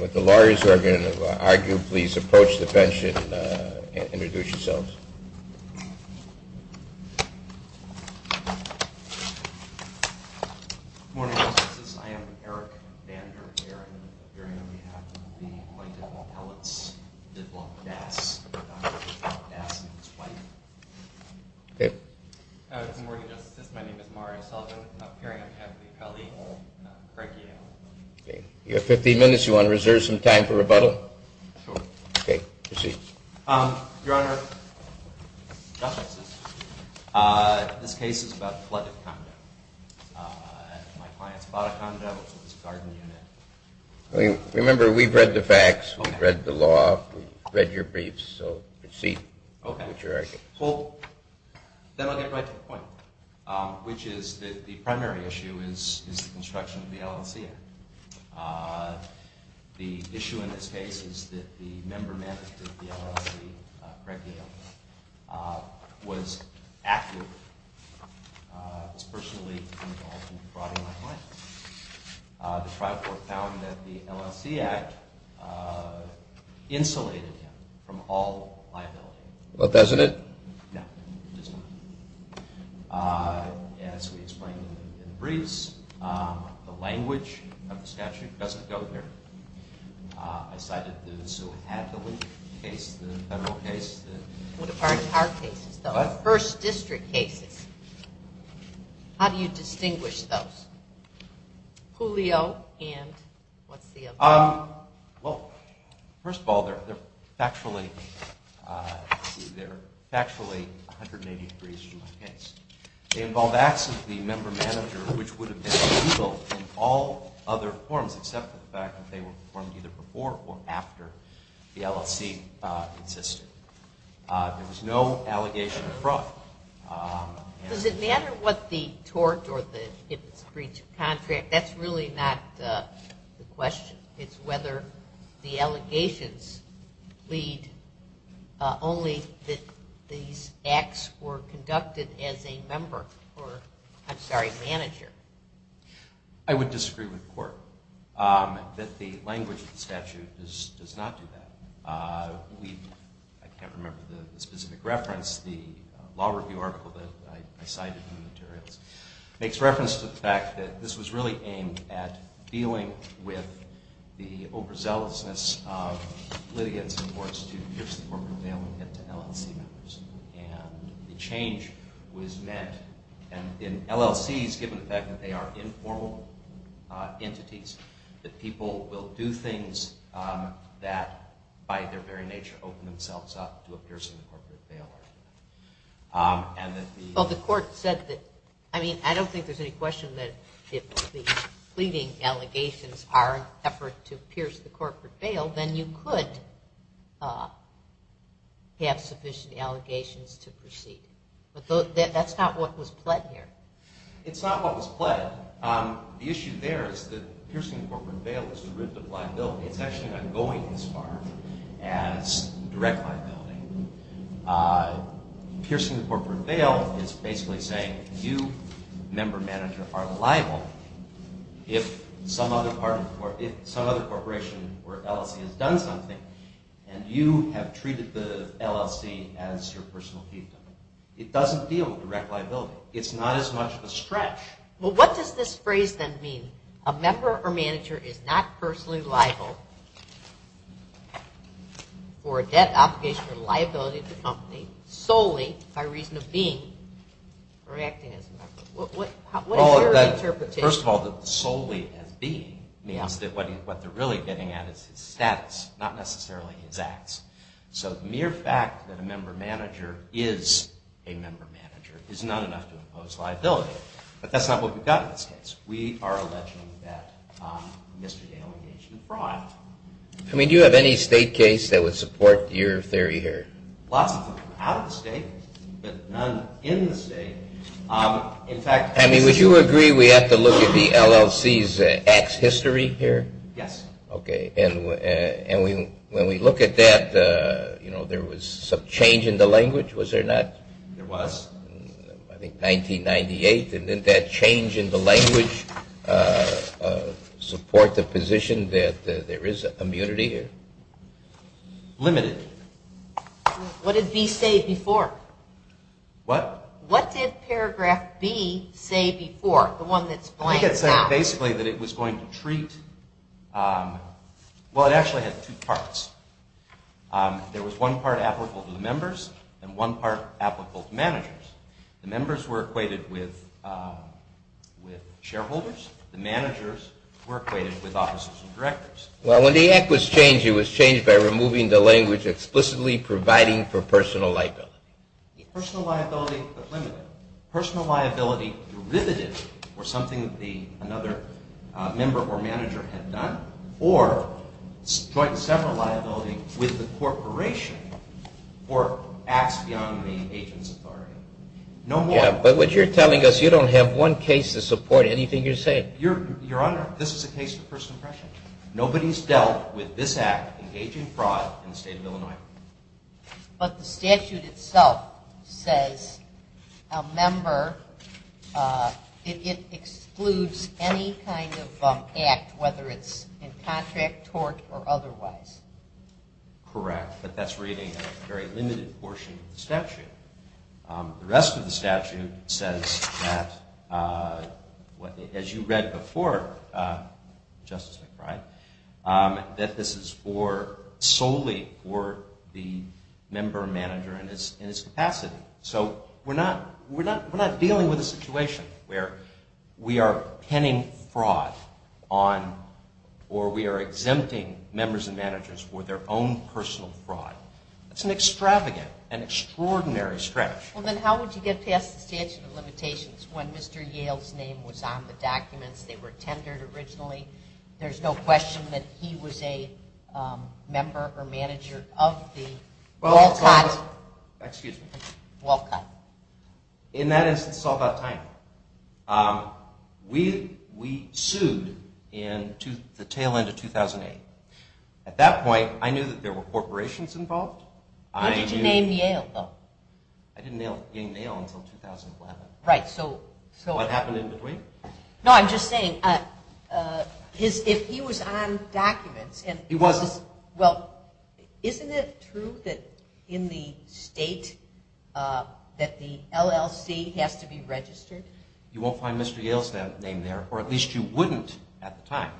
With the lawyers who are going to argue, please approach the bench and introduce yourselves. Good morning, Justices. I am Eric Vander Airen, appearing on behalf of the White-Ditloff-Ellis-Ditloff-Dass, Dass, and his wife. Good morning, Justices. My name is Mario Sullivan, appearing on behalf of the Kelly-Craig Yale. You have 15 minutes. You want to reserve some time for rebuttal? Sure. Okay, proceed. Your Honor, Justices, this case is about a flooded condo. My client's bought a condo, which was a garden unit. Remember, we've read the facts, we've read the law, we've read your briefs, so proceed with your arguments. Okay. Well, then I'll get right to the point, which is that the primary issue is the construction of the LLC. The issue in this case is that the member-manager of the LLC, Craig Yale, was active, was personally involved, and broadened my mind. The trial court found that the LLC act insulated him from all liability. But doesn't it? No, it does not. As we explained in the briefs, the language of the statute doesn't go there. I cited those who had the case, the federal case. What about our cases, the first district cases? How do you distinguish those? Julio and what's the other one? Well, first of all, they're factually 180 degrees from my case. They involve acts of the member-manager, which would have been legal in all other forms, except for the fact that they were performed either before or after the LLC existed. There was no allegation of fraud. Does it matter what the tort or if it's breach of contract? That's really not the question. It's whether the allegations lead only that these acts were conducted as a member or, I'm sorry, manager. I would disagree with the court that the language of the statute does not do that. I can't remember the specific reference. The law review article that I cited in the materials makes reference to the fact that this was really aimed at dealing with the overzealousness of litigants and courts to pitch the corporate bail and get to LLC members. The change was meant in LLCs, given the fact that they are informal entities, that people will do things that, by their very nature, open themselves up to a piercing corporate bail. Well, the court said that, I mean, I don't think there's any question that if the pleading allegations are an effort to pierce the corporate bail, then you could have sufficient allegations to proceed. But that's not what was pled here. It's not what was pled. The issue there is that piercing the corporate bail is a derivative liability. It's actually not going as far as direct liability. Piercing the corporate bail is basically saying you, member, manager, are liable if some other corporation or LLC has done something and you have treated the LLC as your personal key. It doesn't deal with direct liability. It's not as much of a stretch. Well, what does this phrase then mean? A member or manager is not personally liable for a debt obligation or liability to the company solely by reason of being or acting as a member. What is your interpretation? First of all, solely as being means that what they're really getting at is his status, not necessarily his acts. So the mere fact that a member or manager is a member or manager is not enough to impose liability. But that's not what we've got in this case. We are alleging that Mr. Dale engaged in fraud. I mean, do you have any state case that would support your theory here? Lots of them out of the state, but none in the state. I mean, would you agree we have to look at the LLC's acts history here? Yes. Okay, and when we look at that, you know, there was some change in the language, was there not? There was. I think 1998, and didn't that change in the language support the position that there is immunity here? Limited. What did B say before? What? What did paragraph B say before, the one that's blanked out? I think it said basically that it was going to treat, well, it actually had two parts. There was one part applicable to the members and one part applicable to managers. The members were equated with shareholders. The managers were equated with officers and directors. Well, when the act was changed, it was changed by removing the language explicitly providing for personal liability. Personal liability but limited. Personal liability derivative or something that another member or manager had done, or joint and several liability with the corporation or acts beyond the agent's authority. No more. Yeah, but what you're telling us, you don't have one case to support anything you're saying. Your Honor, this is a case for first impression. Nobody's dealt with this act, engaging fraud, in the state of Illinois. But the statute itself says a member, it excludes any kind of act, whether it's in contract, tort, or otherwise. Correct, but that's reading a very limited portion of the statute. The rest of the statute says that, as you read before, Justice McBride, that this is solely for the member or manager in his capacity. So we're not dealing with a situation where we are penning fraud on or we are exempting members and managers for their own personal fraud. That's an extravagant and extraordinary stretch. Well, then how would you get past the statute of limitations when Mr. Yale's name was on the documents? They were tendered originally. There's no question that he was a member or manager of the Walcott. Excuse me. Walcott. In that instance, it's all about timing. We sued in the tail end of 2008. At that point, I knew that there were corporations involved. What did you name Yale, though? I didn't name Yale until 2011. Right, so. What happened in between? No, I'm just saying, if he was on documents and. He wasn't. Well, isn't it true that in the state that the LLC has to be registered? You won't find Mr. Yale's name there, or at least you wouldn't at the time.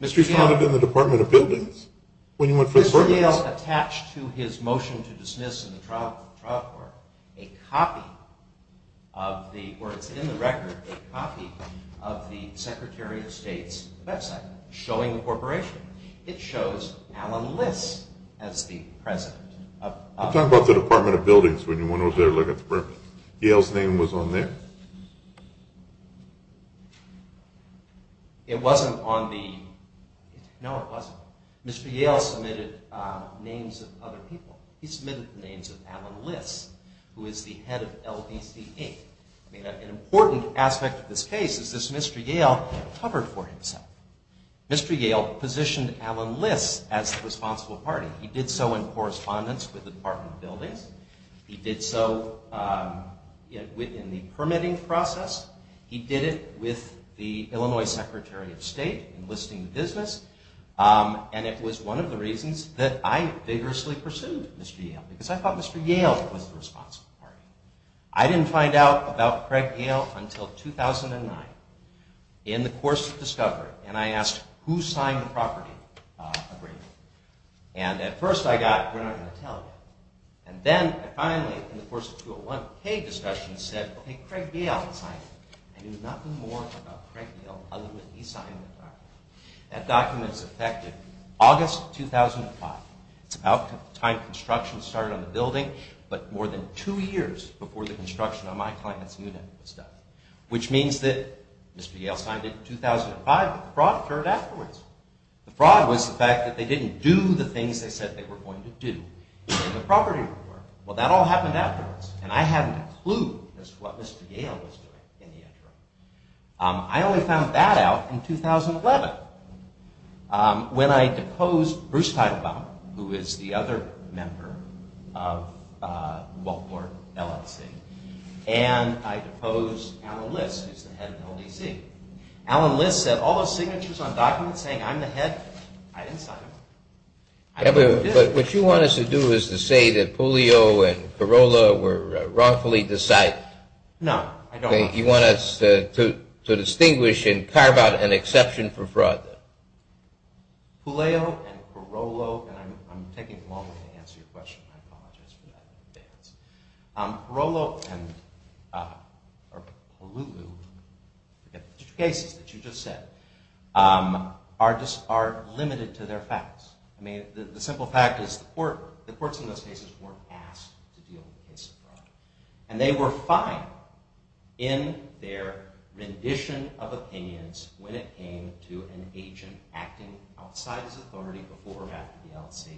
You found it in the Department of Buildings when you went for the permit. Mr. Yale attached to his motion to dismiss in the trial court a copy of the, or it's in the record, a copy of the Secretary of State's website showing the corporation. It shows Alan Liss as the president. I'm talking about the Department of Buildings when you went over there to look at the permit. Yale's name was on there. It wasn't on the. No, it wasn't. Mr. Yale submitted names of other people. He submitted the names of Alan Liss, who is the head of LBC Inc. I mean, an important aspect of this case is this Mr. Yale covered for himself. Mr. Yale positioned Alan Liss as the responsible party. He did so in correspondence with the Department of Buildings. He did so in the permitting process. He did it with the Illinois Secretary of State enlisting the business. It was one of the reasons that I vigorously pursued Mr. Yale, because I thought Mr. Yale was the responsible party. I didn't find out about Craig Yale until 2009 in the course of discovery, and I asked who signed the property agreement. At first I got, we're not going to tell you. And then I finally, in the course of 201K discussion, said, OK, Craig Yale signed it. I knew nothing more about Craig Yale other than he signed the document. That document is effective August 2005. It's about the time construction started on the building, but more than two years before the construction on my client's unit was done, which means that Mr. Yale signed it in 2005, but the fraud occurred afterwards. The fraud was the fact that they didn't do the things they said they were going to do in the property report. Well, that all happened afterwards, and I hadn't a clue as to what Mr. Yale was doing in the interim. I only found that out in 2011 when I deposed Bruce Teitelbaum, who is the other member of the Baltimore LLC, and I deposed Alan List, who's the head of the LDC. Alan List sent all those signatures on documents saying I'm the head. I didn't sign them. But what you want us to do is to say that Puleo and Carollo were wrongfully decided. No, I don't want to. You want us to distinguish and carve out an exception for fraud. Puleo and Carollo, and I'm taking a moment to answer your question. I apologize for that in advance. Carollo and Puleo, the cases that you just said, are limited to their facts. I mean, the simple fact is the courts in those cases weren't asked to deal with cases of fraud, and they were fine in their rendition of opinions when it came to an agent acting outside his authority before or after the LLC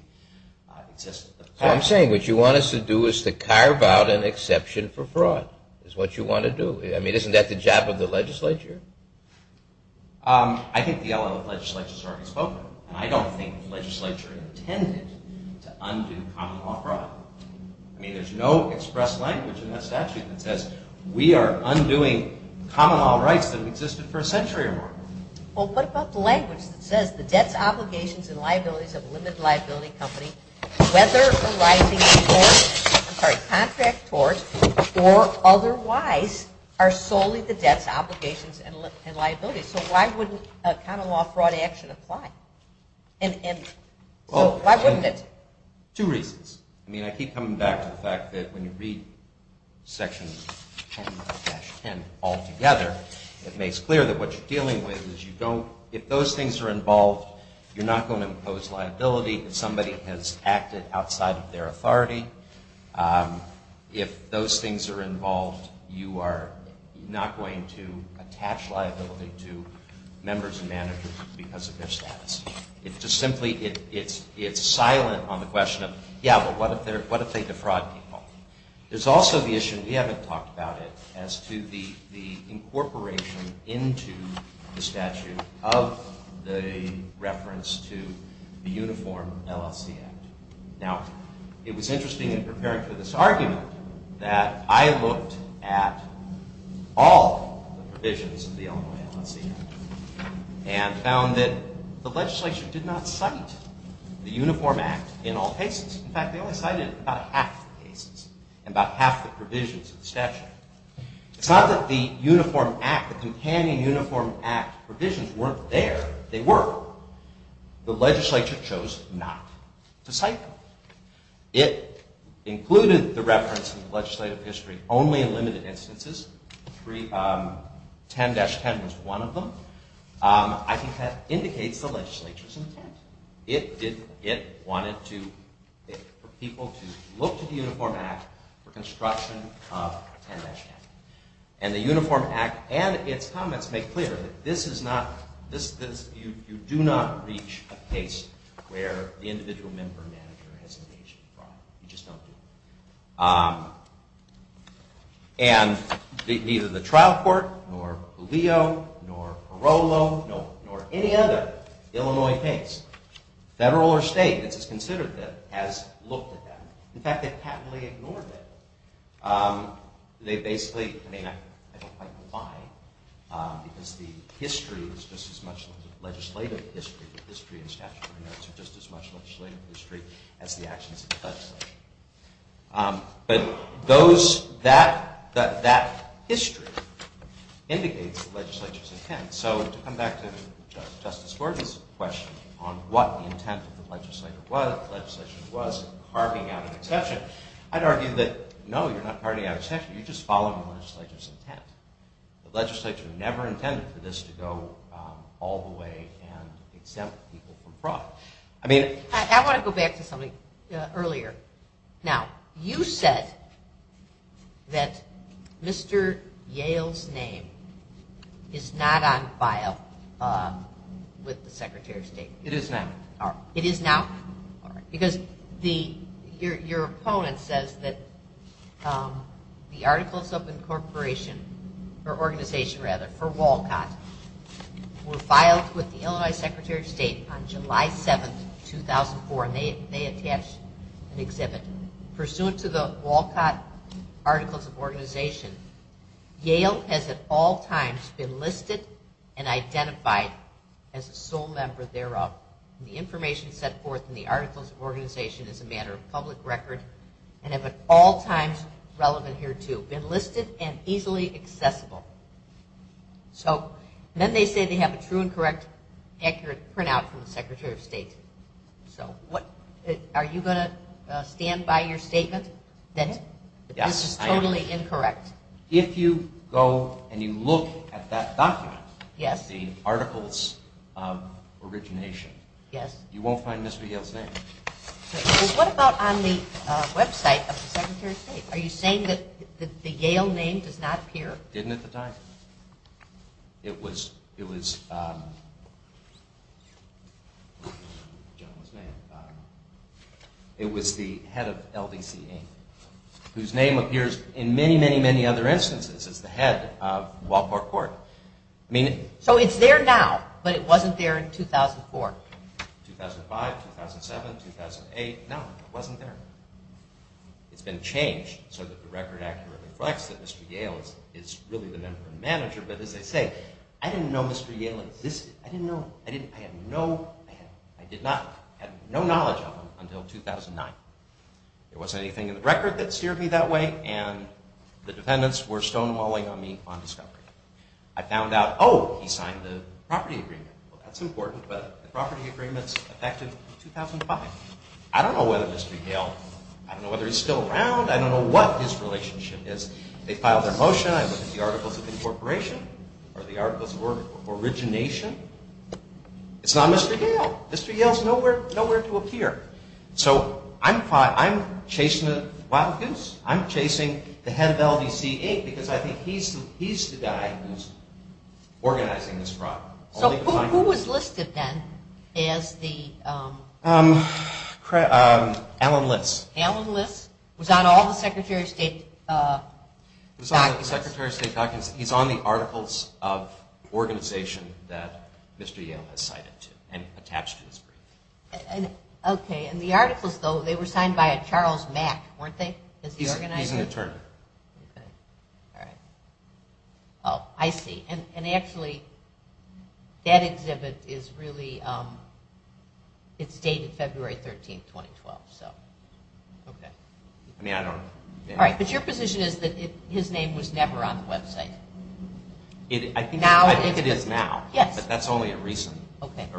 existed. So I'm saying what you want us to do is to carve out an exception for fraud is what you want to do. I mean, isn't that the job of the legislature? I think the LLC legislature has already spoken, and I don't think the legislature intended to undo common law fraud. I mean, there's no expressed language in that statute that says we are undoing common law rights that have existed for a century or more. Well, what about the language that says the debts, obligations, and liabilities of a limited liability company, whether arising from contract tort or otherwise, are solely the debts, obligations, and liabilities. So why wouldn't a common law fraud action apply? Why wouldn't it? Two reasons. I mean, I keep coming back to the fact that when you read Section 10-10 altogether, it makes clear that what you're dealing with is you don't, if those things are involved, you're not going to impose liability if somebody has acted outside of their authority. If those things are involved, you are not going to attach liability to members and managers because of their status. It's just simply, it's silent on the question of, yeah, but what if they defraud people? There's also the issue, and we haven't talked about it, as to the incorporation into the statute of the reference to the Uniform LLC Act. Now, it was interesting in preparing for this argument that I looked at all the provisions of the Illinois LLC Act and found that the legislature did not cite the Uniform Act in all cases. It's not that the Uniform Act, the companion Uniform Act provisions weren't there. They were. The legislature chose not to cite them. It included the reference in the legislative history only in limited instances. 10-10 was one of them. I think that indicates the legislature's intent. It wanted for people to look to the Uniform Act for construction of 10-10. And the Uniform Act and its comments make clear that this is not, you do not reach a case where the individual member or manager has engaged in fraud. You just don't do it. And neither the trial court, nor Galeo, nor Carollo, nor any other Illinois case, federal or state, that has considered them, has looked at them. In fact, they patently ignored them. They basically, I mean, I don't quite know why, because the history is just as much legislative history, the history and statutory notes are just as much legislative history as the actions of the legislature. But that history indicates the legislature's intent. So to come back to Justice Gordon's question on what the intent of the legislature was, and carving out an exception, I'd argue that, no, you're not carving out an exception. You're just following the legislature's intent. The legislature never intended for this to go all the way and exempt people from fraud. I want to go back to something earlier. Now, you said that Mr. Yale's name is not on file with the Secretary of State. It is now. It is now? All right. Because your opponent says that the Articles of Incorporation, or Organization rather, for Walcott, were filed with the Illinois Secretary of State on July 7, 2004, and they attached an exhibit. Pursuant to the Walcott Articles of Organization, Yale has at all times been listed and identified as a sole member thereof. The information set forth in the Articles of Organization is a matter of public record and have at all times, relevant here too, been listed and easily accessible. So then they say they have a true and correct accurate printout from the Secretary of State. So are you going to stand by your statement that this is totally incorrect? Yes, I am. If you go and you look at that document, the Articles of Origination, you won't find Mr. Yale's name. What about on the website of the Secretary of State? Are you saying that the Yale name does not appear? It didn't at the time. It was the head of LDC, whose name appears in many, many, many other instances as the head of Walport Court. So it's there now, but it wasn't there in 2004? 2005, 2007, 2008, no, it wasn't there. It's been changed so that the record accurately reflects that Mr. Yale is really the member and manager, but as I say, I didn't know Mr. Yale existed. I didn't know, I had no knowledge of him until 2009. There wasn't anything in the record that steered me that way, and the defendants were stonewalling on me on discovery. I found out, oh, he signed the property agreement. Well, that's important, but the property agreement's effective in 2005. I don't know whether Mr. Yale, I don't know whether he's still around. I don't know what his relationship is. They filed their motion. I looked at the Articles of Incorporation or the Articles of Origination. It's not Mr. Yale. Mr. Yale's nowhere to appear. So I'm chasing a wild goose. I'm chasing the head of LDC, because I think he's the guy who's organizing this problem. So who was listed then as the? Alan Liss. Alan Liss was on all the Secretary of State documents. He was on the Secretary of State documents. He's on the Articles of Organization that Mr. Yale has cited and attached to his brief. Okay, and the Articles, though, they were signed by a Charles Mack, weren't they? He's an attorney. Okay, all right. Oh, I see. And actually, that exhibit is really, it's dated February 13, 2012, so. Okay. I mean, I don't know. All right, but your position is that his name was never on the website? I think it is now. Yes. But that's only a recent event.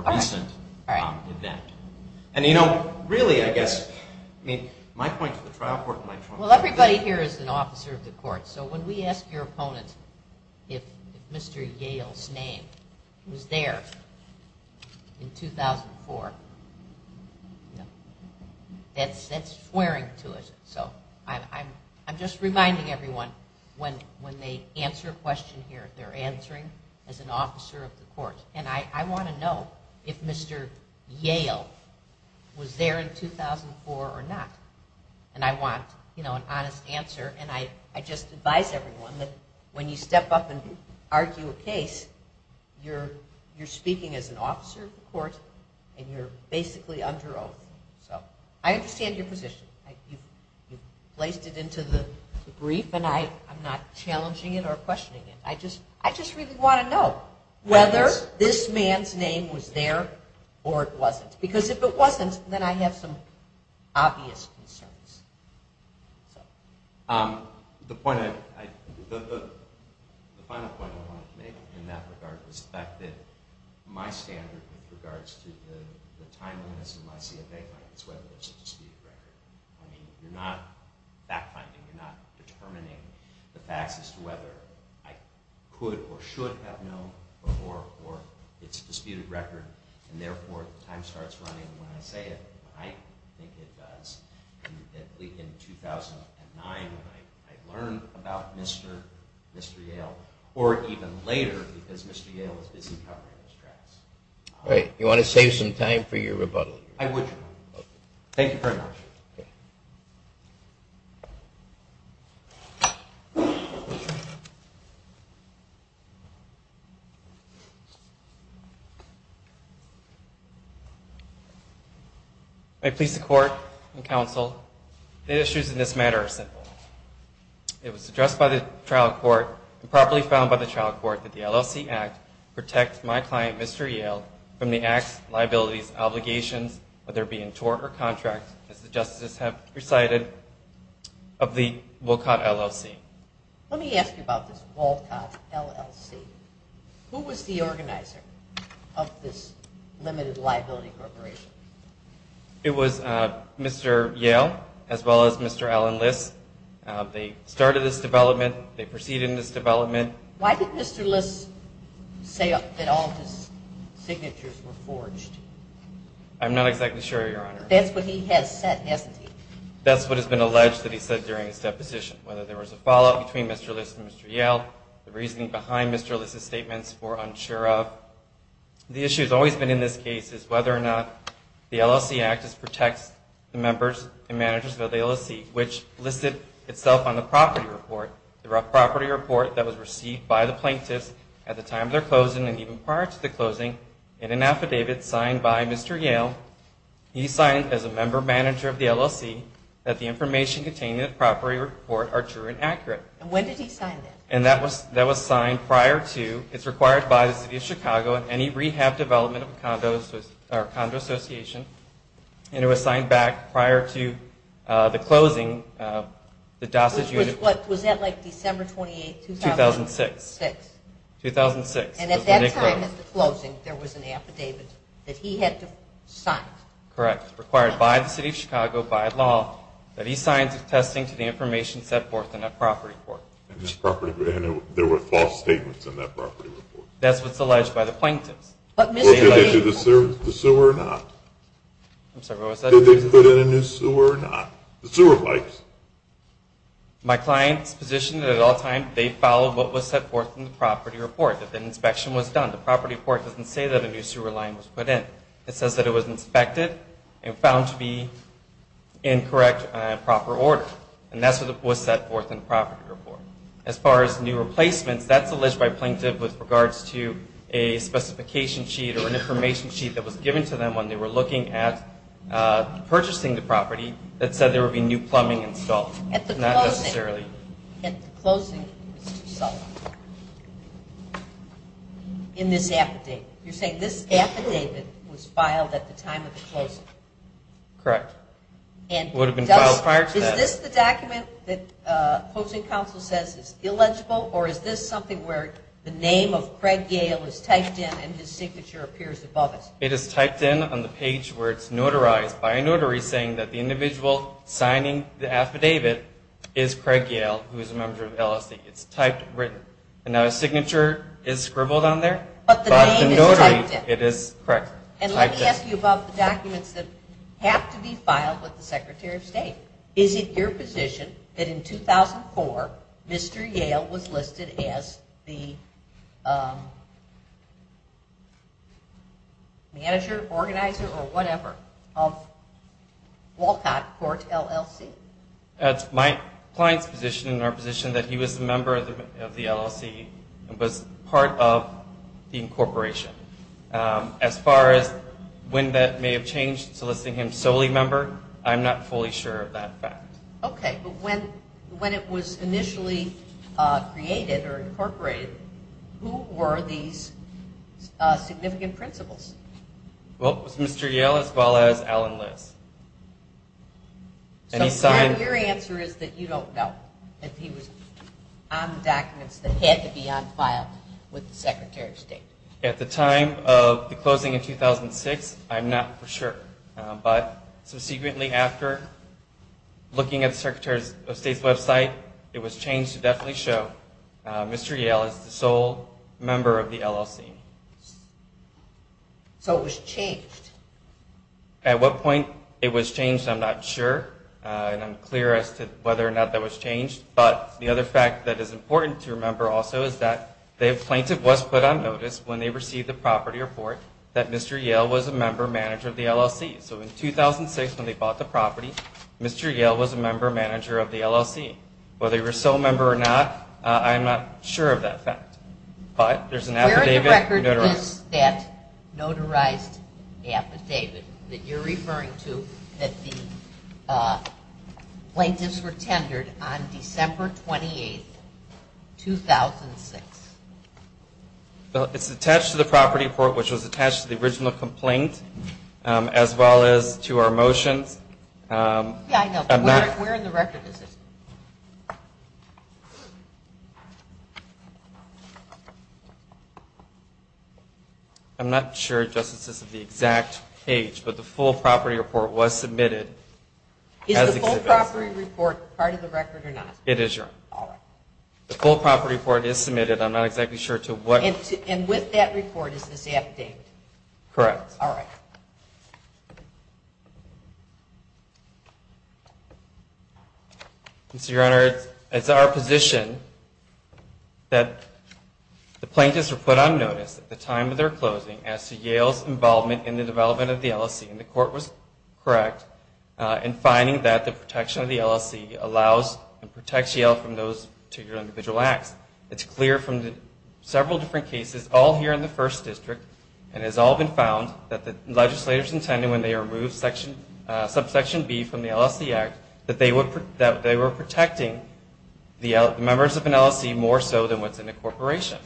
And, you know, really, I guess, I mean, my point to the trial court, my point to the court. Well, everybody here is an officer of the court. So when we ask your opponent if Mr. Yale's name was there in 2004, that's swearing to us. So I'm just reminding everyone when they answer a question here, they're answering as an officer of the court. And I want to know if Mr. Yale was there in 2004 or not. And I want, you know, an honest answer. And I just advise everyone that when you step up and argue a case, you're speaking as an officer of the court and you're basically under oath. So I understand your position. You've placed it into the brief, and I'm not challenging it or questioning it. I just really want to know whether this man's name was there or it wasn't. Because if it wasn't, then I have some obvious concerns. The final point I wanted to make in that regard was the fact that my standard with regards to the timeliness of my CFA is whether there's a disputed record. I mean, you're not fact-finding. You're not determining the facts as to whether I could or should have known or it's a disputed record. And therefore, time starts running when I say it, and I think it does. In 2009, when I learned about Mr. Yale, or even later, because Mr. Yale was busy covering his tracks. All right. You want to save some time for your rebuttal? I would. Thank you very much. May it please the Court and Counsel, the issues in this matter are simple. It was addressed by the trial court and properly found by the trial court that the LLC Act protects my client, Mr. Yale, from the act's liabilities, obligations, whether being tort or contract, as the justices have recited, of the Walcott LLC. Let me ask you about this Walcott LLC. Who was the organizer of this limited liability corporation? It was Mr. Yale as well as Mr. Alan Liss. They started this development. They proceeded in this development. Why did Mr. Liss say that all his signatures were forged? I'm not exactly sure, Your Honor. That's what he has said, hasn't he? That's what has been alleged that he said during his deposition, whether there was a fallout between Mr. Liss and Mr. Yale, the reasoning behind Mr. Liss's statements for unsure of. The issue that has always been in this case is whether or not the LLC Act protects the members and managers of the LLC, which listed itself on the property report, the property report that was received by the plaintiffs at the time of their closing and even prior to the closing in an affidavit signed by Mr. Yale. He signed, as a member manager of the LLC, that the information contained in the property report are true and accurate. When did he sign that? That was signed prior to, it's required by the City of Chicago and any rehab development of a condo association, and it was signed back prior to the closing. Was that like December 28, 2006? 2006. At that time, at the closing, there was an affidavit that he had to sign. Correct. Required by the City of Chicago, by law, that he signs attesting to the information set forth in that property report. There were false statements in that property report. That's what's alleged by the plaintiffs. Did they do the sewer or not? I'm sorry, what was that? Did they put in a new sewer or not, the sewer pipes? My client's position at all times, they followed what was set forth in the property report, that the inspection was done. The property report doesn't say that a new sewer line was put in. It says that it was inspected and found to be in correct and proper order, and that's what was set forth in the property report. As far as new replacements, that's alleged by plaintiff with regards to a specification sheet or an information sheet that was given to them when they were looking at purchasing the property that said there would be new plumbing installed, not necessarily. At the closing, Mr. Sullivan, in this affidavit, you're saying this affidavit was filed at the time of the closing? Correct. It would have been filed prior to that. Is this the document that closing counsel says is illegible, or is this something where the name of Craig Yale is typed in and his signature appears above it? It is typed in on the page where it's notarized by a notary saying that the individual signing the affidavit is Craig Yale, who is a member of LSE. It's typed and written. And now his signature is scribbled on there, but the notary, it is typed in. And let me ask you about the documents that have to be filed with the Secretary of State. Is it your position that in 2004, Mr. Yale was listed as the manager, organizer, or whatever, of Walcott Court, LLC? It's my client's position and our position that he was a member of the LLC and was part of the incorporation. As far as when that may have changed to listing him solely member, I'm not fully sure of that fact. Okay, but when it was initially created or incorporated, who were these significant principals? Well, it was Mr. Yale as well as Alan Liss. So your answer is that you don't know if he was on the documents that had to be on file with the Secretary of State. At the time of the closing in 2006, I'm not for sure. But subsequently after looking at the Secretary of State's website, it was changed to definitely show Mr. Yale as the sole member of the LLC. So it was changed? At what point it was changed, I'm not sure. And I'm clear as to whether or not that was changed. But the other fact that is important to remember also is that the plaintiff was put on notice when they received the property report that Mr. Yale was a member manager of the LLC. So in 2006 when they bought the property, Mr. Yale was a member manager of the LLC. Whether he was a sole member or not, I'm not sure of that fact. But there's an affidavit. Where in the record is that notarized affidavit that you're referring to that the plaintiffs were tendered on December 28, 2006? It's attached to the property report, which was attached to the original complaint, as well as to our motions. Yeah, I know. But where in the record is it? I'm not sure, Justice, this is the exact page. But the full property report was submitted. Is the full property report part of the record or not? It is, Your Honor. All right. The full property report is submitted. I'm not exactly sure to what – And with that report is this affidavit? Correct. All right. Mr. Your Honor, it's our position that the plaintiffs were put on notice at the time of their closing as to Yale's involvement in the development of the LLC. And the court was correct in finding that the protection of the LLC allows and protects Yale from those particular individual acts. It's clear from several different cases, all here in the First District, and has all been found, that the legislators intended when they removed subsection B from the LLC Act that they were protecting the members of an LLC more so than what's in a corporation.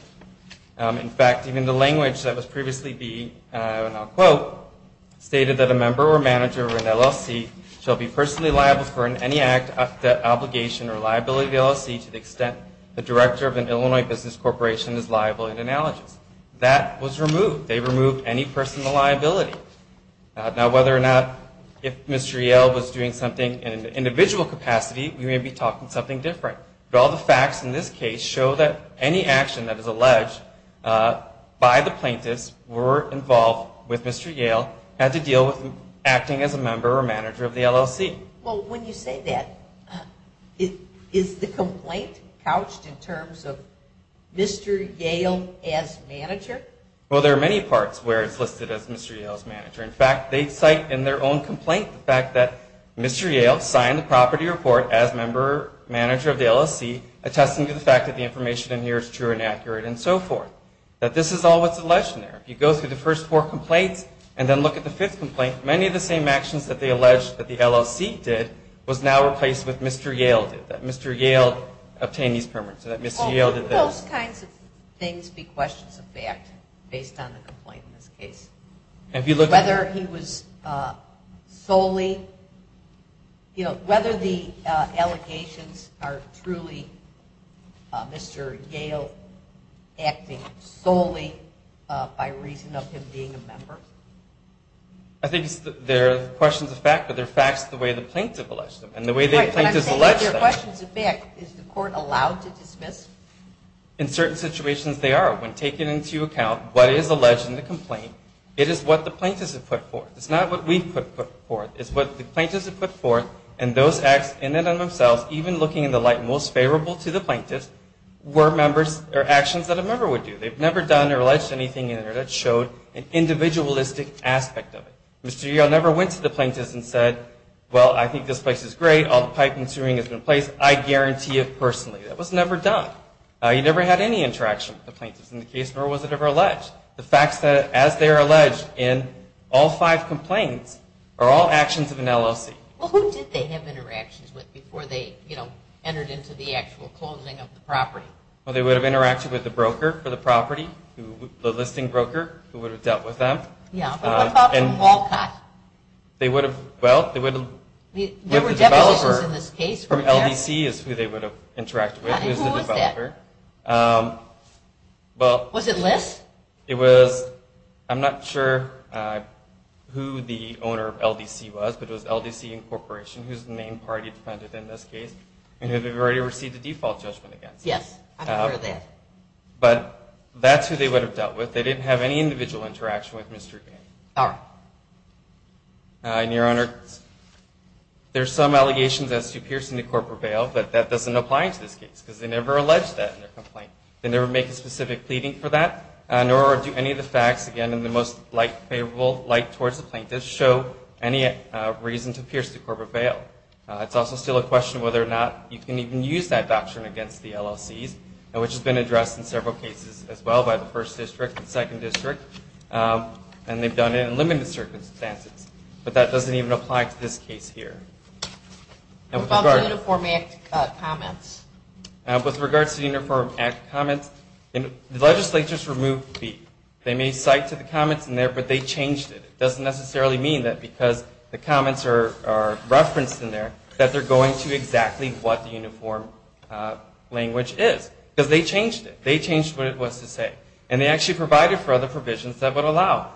In fact, even the language that was previously being, and I'll quote, stated that a member or manager of an LLC shall be personally liable for any act, obligation, or liability of the LLC to the extent the director of an Illinois business corporation is liable in analogous. That was removed. They removed any personal liability. Now, whether or not if Mr. Yale was doing something in an individual capacity, we may be talking something different. But all the facts in this case show that any action that is alleged by the plaintiffs were involved with Mr. Yale had to deal with acting as a member or manager of the LLC. Well, when you say that, is the complaint couched in terms of Mr. Yale as manager? Well, there are many parts where it's listed as Mr. Yale's manager. In fact, they cite in their own complaint the fact that Mr. Yale signed the property report as member or manager of the LLC, attesting to the fact that the information in here is true and accurate and so forth. That this is all what's alleged in there. If you go through the first four complaints and then look at the fifth complaint, many of the same actions that they allege that the LLC did was now replaced with Mr. Yale did, that Mr. Yale obtained these permits. So that Mr. Yale did this. Well, would those kinds of things be questions of fact based on the complaint in this case? Whether he was solely, you know, whether the allegations are truly Mr. Yale acting solely by reason of him being a member? I think they're questions of fact, but they're facts the way the plaintiff alleged them and the way the plaintiff alleged them. Right, but I'm saying they're questions of fact. Is the court allowed to dismiss? In certain situations, they are. When taken into account what is alleged in the complaint, it is what the plaintiffs have put forth. It's not what we've put forth. It's what the plaintiffs have put forth and those acts in and of themselves, even looking in the light most favorable to the plaintiffs, were actions that a member would do. They've never done or alleged anything in there that showed an individualistic aspect of it. Mr. Yale never went to the plaintiffs and said, well, I think this place is great. All the piping and sewing has been placed. I guarantee it personally. That was never done. He never had any interaction with the plaintiffs in the case, nor was it ever alleged. The facts that, as they are alleged in all five complaints, are all actions of an LLC. Well, who did they have interactions with before they, you know, entered into the actual closing of the property? Well, they would have interacted with the broker for the property, the listing broker who would have dealt with them. Yeah, but what about Walcott? They would have, well, they would have dealt with the developer. There were developers in this case, weren't there? The owner of LDC is who they would have interacted with. Who was that? It was the developer. Was it List? It was. I'm not sure who the owner of LDC was, but it was LDC Incorporation, who's the main party defendant in this case, and who had already received a default judgment against them. Yes, I'm aware of that. But that's who they would have dealt with. They didn't have any individual interaction with Mr. Yale. All right. And, Your Honor, there's some allegations as to piercing the corporate bail, but that doesn't apply to this case because they never allege that in their complaint. They never make a specific pleading for that, nor do any of the facts, again, in the most light favorable light towards the plaintiff show any reason to pierce the corporate bail. It's also still a question whether or not you can even use that doctrine against the LLCs, which has been addressed in several cases as well by the First District and Second District, and they've done it in limited circumstances. But that doesn't even apply to this case here. What about the Uniform Act comments? With regard to the Uniform Act comments, the legislature's removed B. They made cite to the comments in there, but they changed it. It doesn't necessarily mean that because the comments are referenced in there, that they're going to exactly what the uniform language is, because they changed it. They changed what it was to say. And they actually provided for other provisions that would allow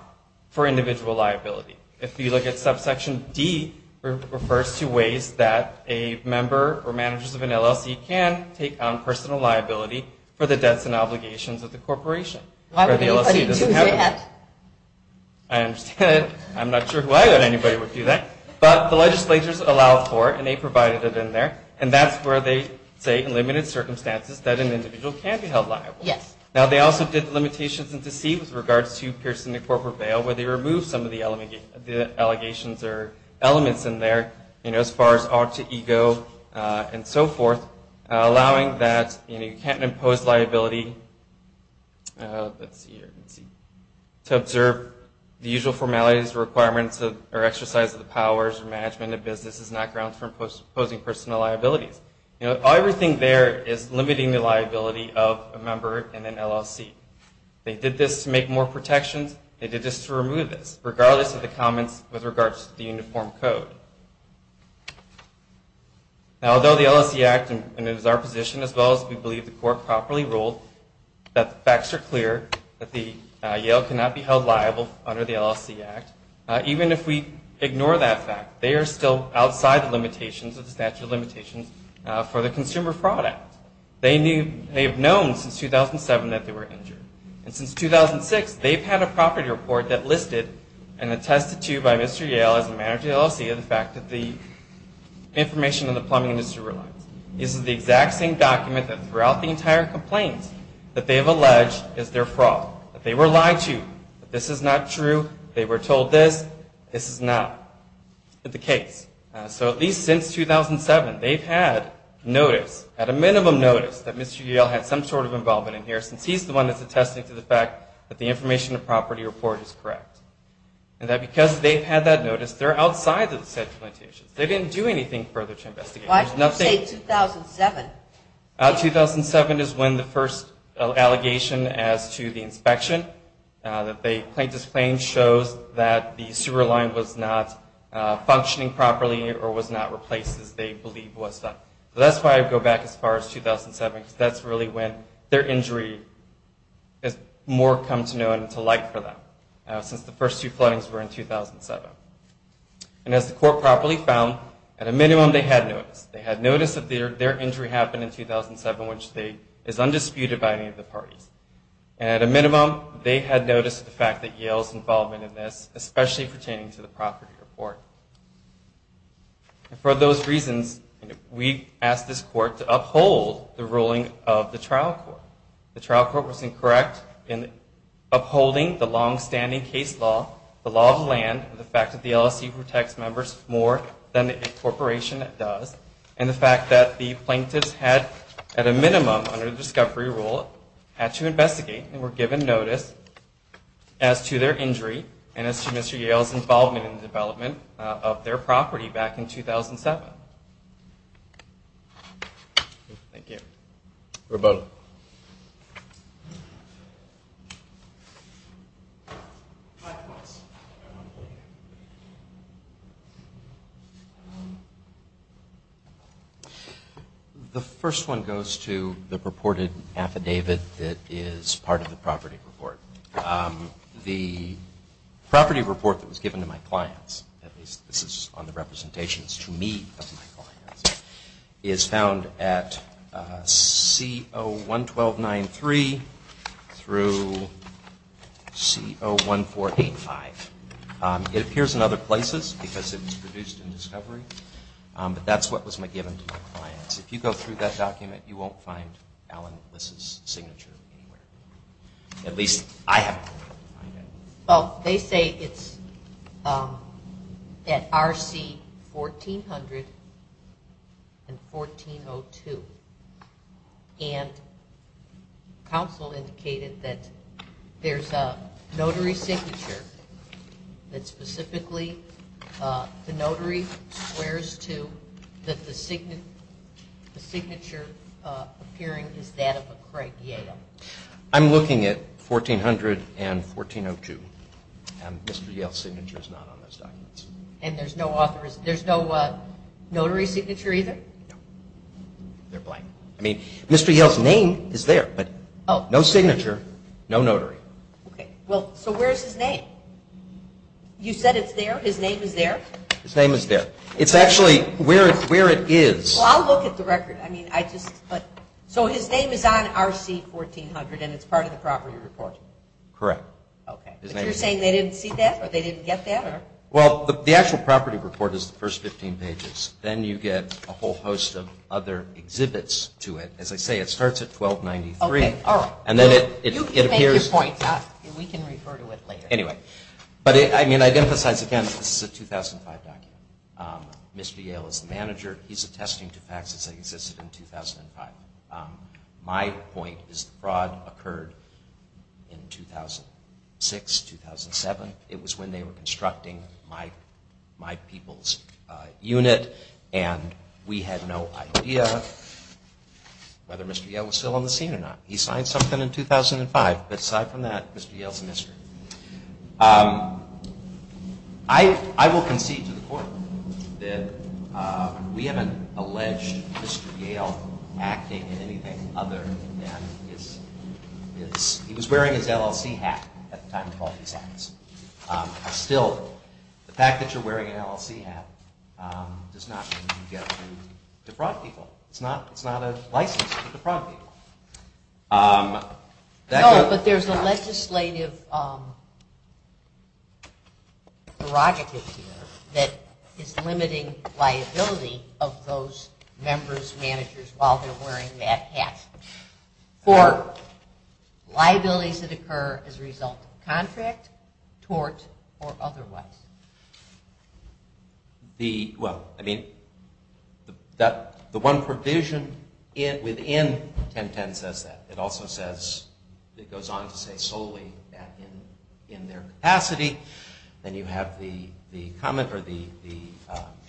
for individual liability. If you look at subsection D, it refers to ways that a member or managers of an LLC can take on personal liability for the debts and obligations of the corporation where the LLC doesn't have them. I understand. I'm not sure why anybody would do that. But the legislature's allowed for it, and they provided it in there, and that's where they say in limited circumstances that an individual can be held liable. Yes. Now, they also did the limitations in C with regards to piercing the corporate bail where they removed some of the allegations or elements in there, as far as ought to ego and so forth, allowing that you can't impose liability. Let's see here. To observe the usual formalities, requirements, or exercise of the powers of management and business is not grounds for imposing personal liabilities. Everything there is limiting the liability of a member in an LLC. They did this to make more protections. They did this to remove this, regardless of the comments with regards to the uniform code. Now, although the LLC Act, and it is our position, as well as we believe the court properly ruled that the facts are clear, that Yale cannot be held liable under the LLC Act, even if we ignore that fact, they are still outside the limitations of the statute of limitations for the Consumer Fraud Act. They have known since 2007 that they were injured. And since 2006, they've had a property report that listed and attested to by Mr. Yale as the manager of the LLC the fact that the information in the plumbing industry relies. This is the exact same document that throughout the entire complaint that they have alleged is their fraud, that they were lied to, that this is not true, they were told this, this is not the case. So at least since 2007, they've had notice, at a minimum notice, that Mr. Yale had some sort of involvement in here since he's the one that's attesting to the fact that the information in the property report is correct. And that because they've had that notice, they're outside the statute of limitations. They didn't do anything further to investigate. Why did you say 2007? 2007 is when the first allegation as to the inspection, that the plaintiff's claim shows that the sewer line was not functioning properly or was not replaced as they believe was done. So that's why I go back as far as 2007, because that's really when their injury has more come to know and to like for them, since the first two floodings were in 2007. And as the court properly found, at a minimum they had notice. They had notice that their injury happened in 2007, which is undisputed by any of the parties. And at a minimum, they had notice of the fact that Yale's involvement in this, especially pertaining to the property report. And for those reasons, we asked this court to uphold the ruling of the trial court. The trial court was incorrect in upholding the long-standing case law, the law of the land, and the fact that the LSC protects members more than a corporation does. And the fact that the plaintiffs had, at a minimum, under the discovery rule, had to investigate and were given notice as to their injury and as to Mr. Yale's involvement in the development of their property back in 2007. Thank you. Roberto. The first one goes to the purported affidavit that is part of the property report. The property report that was given to my clients, at least this is on the representations to me of my clients, is found at C-0-1-12-9-3 through C-0-1-4-8-5. It appears in other places because it was produced in discovery, but that's what was given to my clients. If you go through that document, you won't find Alan Bliss's signature anywhere. At least I haven't been able to find it. Well, they say it's at R-C-1400 and 1402. And counsel indicated that there's a notary signature that specifically the notary swears to that the signature appearing is that of a Craig Yale. I'm looking at 1400 and 1402. Mr. Yale's signature is not on those documents. And there's no notary signature either? No. They're blank. I mean, Mr. Yale's name is there, but no signature, no notary. Okay. Well, so where's his name? You said it's there? His name is there? His name is there. It's actually where it is. Well, I'll look at the record. So his name is on R-C-1400 and it's part of the property report? Correct. Okay. But you're saying they didn't see that or they didn't get that? Well, the actual property report is the first 15 pages. Then you get a whole host of other exhibits to it. As I say, it starts at 1293. Okay. All right. You can make your point. We can refer to it later. But I mean, I'd emphasize again, this is a 2005 document. Mr. Yale is the manager. He's attesting to facts as they existed in 2005. My point is the fraud occurred in 2006, 2007. It was when they were constructing my people's unit, and we had no idea whether Mr. Yale was still on the scene or not. He signed something in 2005. But aside from that, Mr. Yale's a mystery. I will concede to the court that we haven't alleged Mr. Yale acting in anything other than his – he was wearing his LLC hat at the time of all these acts. Still, the fact that you're wearing an LLC hat does not mean you've got to defraud people. It's not a license to defraud people. No, but there's a legislative prerogative here that is limiting liability of those members, managers, while they're wearing that hat for liabilities that occur as a result of contract, tort, or otherwise. Well, I mean, the one provision within 1010 says that. It also says – it goes on to say solely that in their capacity. Then you have the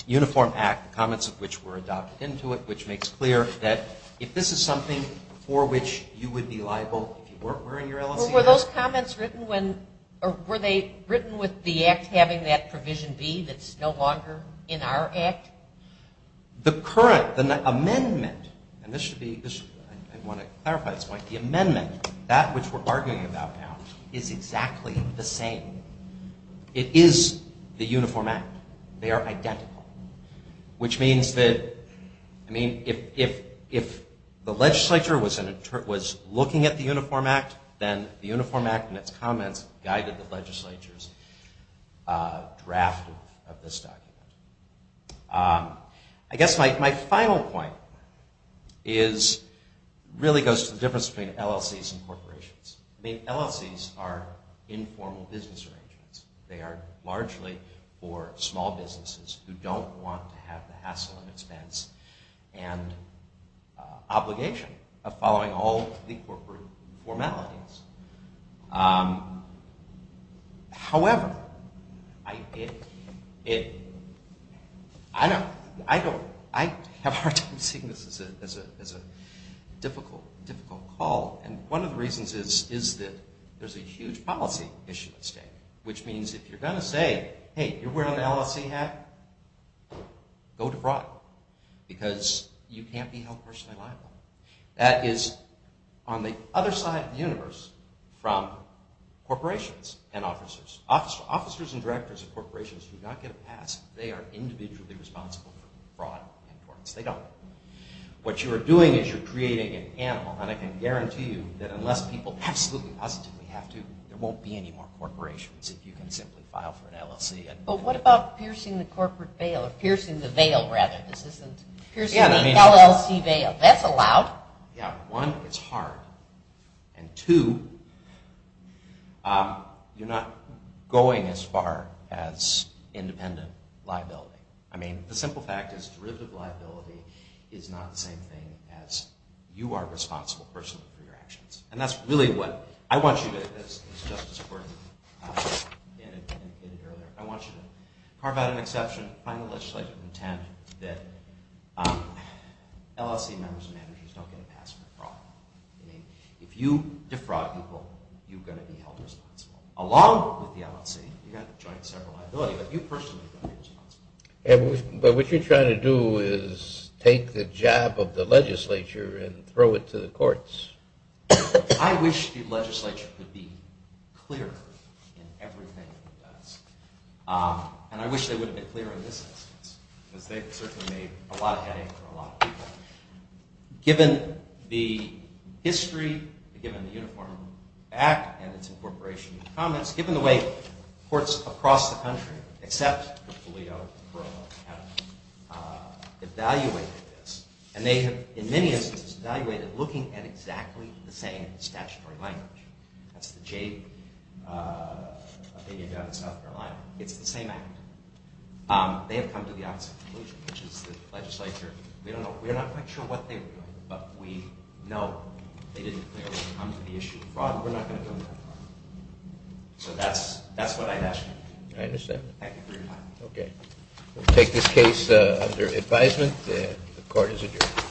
uniform act, the comments of which were adopted into it, which makes clear that if this is something for which you would be liable if you weren't wearing your LLC hat – Well, were those comments written when – or were they written with the act having that provision B that's no longer in our act? The current – the amendment – and this should be – I want to clarify this point. The amendment, that which we're arguing about now, is exactly the same. It is the uniform act. They are identical, which means that – I mean, if the legislature was looking at the uniform act, then the uniform act and its comments guided the legislature's draft of this document. I guess my final point is – really goes to the difference between LLCs and corporations. I mean, LLCs are informal business arrangements. They are largely for small businesses who don't want to have the hassle and expense and obligation of following all the corporate formalities. However, I don't – I have a hard time seeing this as a difficult call, and one of the reasons is that there's a huge policy issue at stake, which means if you're going to say, hey, you're wearing an LLC hat, go to broad, because you can't be held personally liable. That is on the other side of the universe from corporations and officers. Officers and directors of corporations do not get a pass. They are individually responsible for broad importance. They don't. What you are doing is you're creating an animal, and I can guarantee you that unless people absolutely positively have to, there won't be any more corporations if you can simply file for an LLC. But what about piercing the corporate veil – or piercing the veil, rather? Piercing the LLC veil. That's allowed. Yeah. One, it's hard. And two, you're not going as far as independent liability. I mean, the simple fact is derivative liability is not the same thing as you are responsible personally for your actions. And that's really what I want you to, as Justice Gordon indicated earlier, I want you to carve out an exception, find a legislative intent that LLC members and managers don't get a pass for broad. If you defraud people, you're going to be held responsible. Along with the LLC, you've got joint several liability, but you personally are going to be held responsible. But what you're trying to do is take the job of the legislature and throw it to the courts. I wish the legislature could be clearer in everything it does. And I wish they would have been clearer in this instance, because they certainly made a lot of headache for a lot of people. Given the history, given the Uniform Act and its incorporation in the comments, given the way courts across the country, except for Toledo, have evaluated this, and they have, in many instances, evaluated looking at exactly the same statutory language. That's the Jade opinion down in South Carolina. It's the same act. They have come to the opposite conclusion, which is the legislature, we don't know, we're not quite sure what they were doing, but we know they didn't clearly come to the issue of fraud, so that's what I'm asking. I understand. Thank you for your time. Okay. We'll take this case under advisement. The court is adjourned.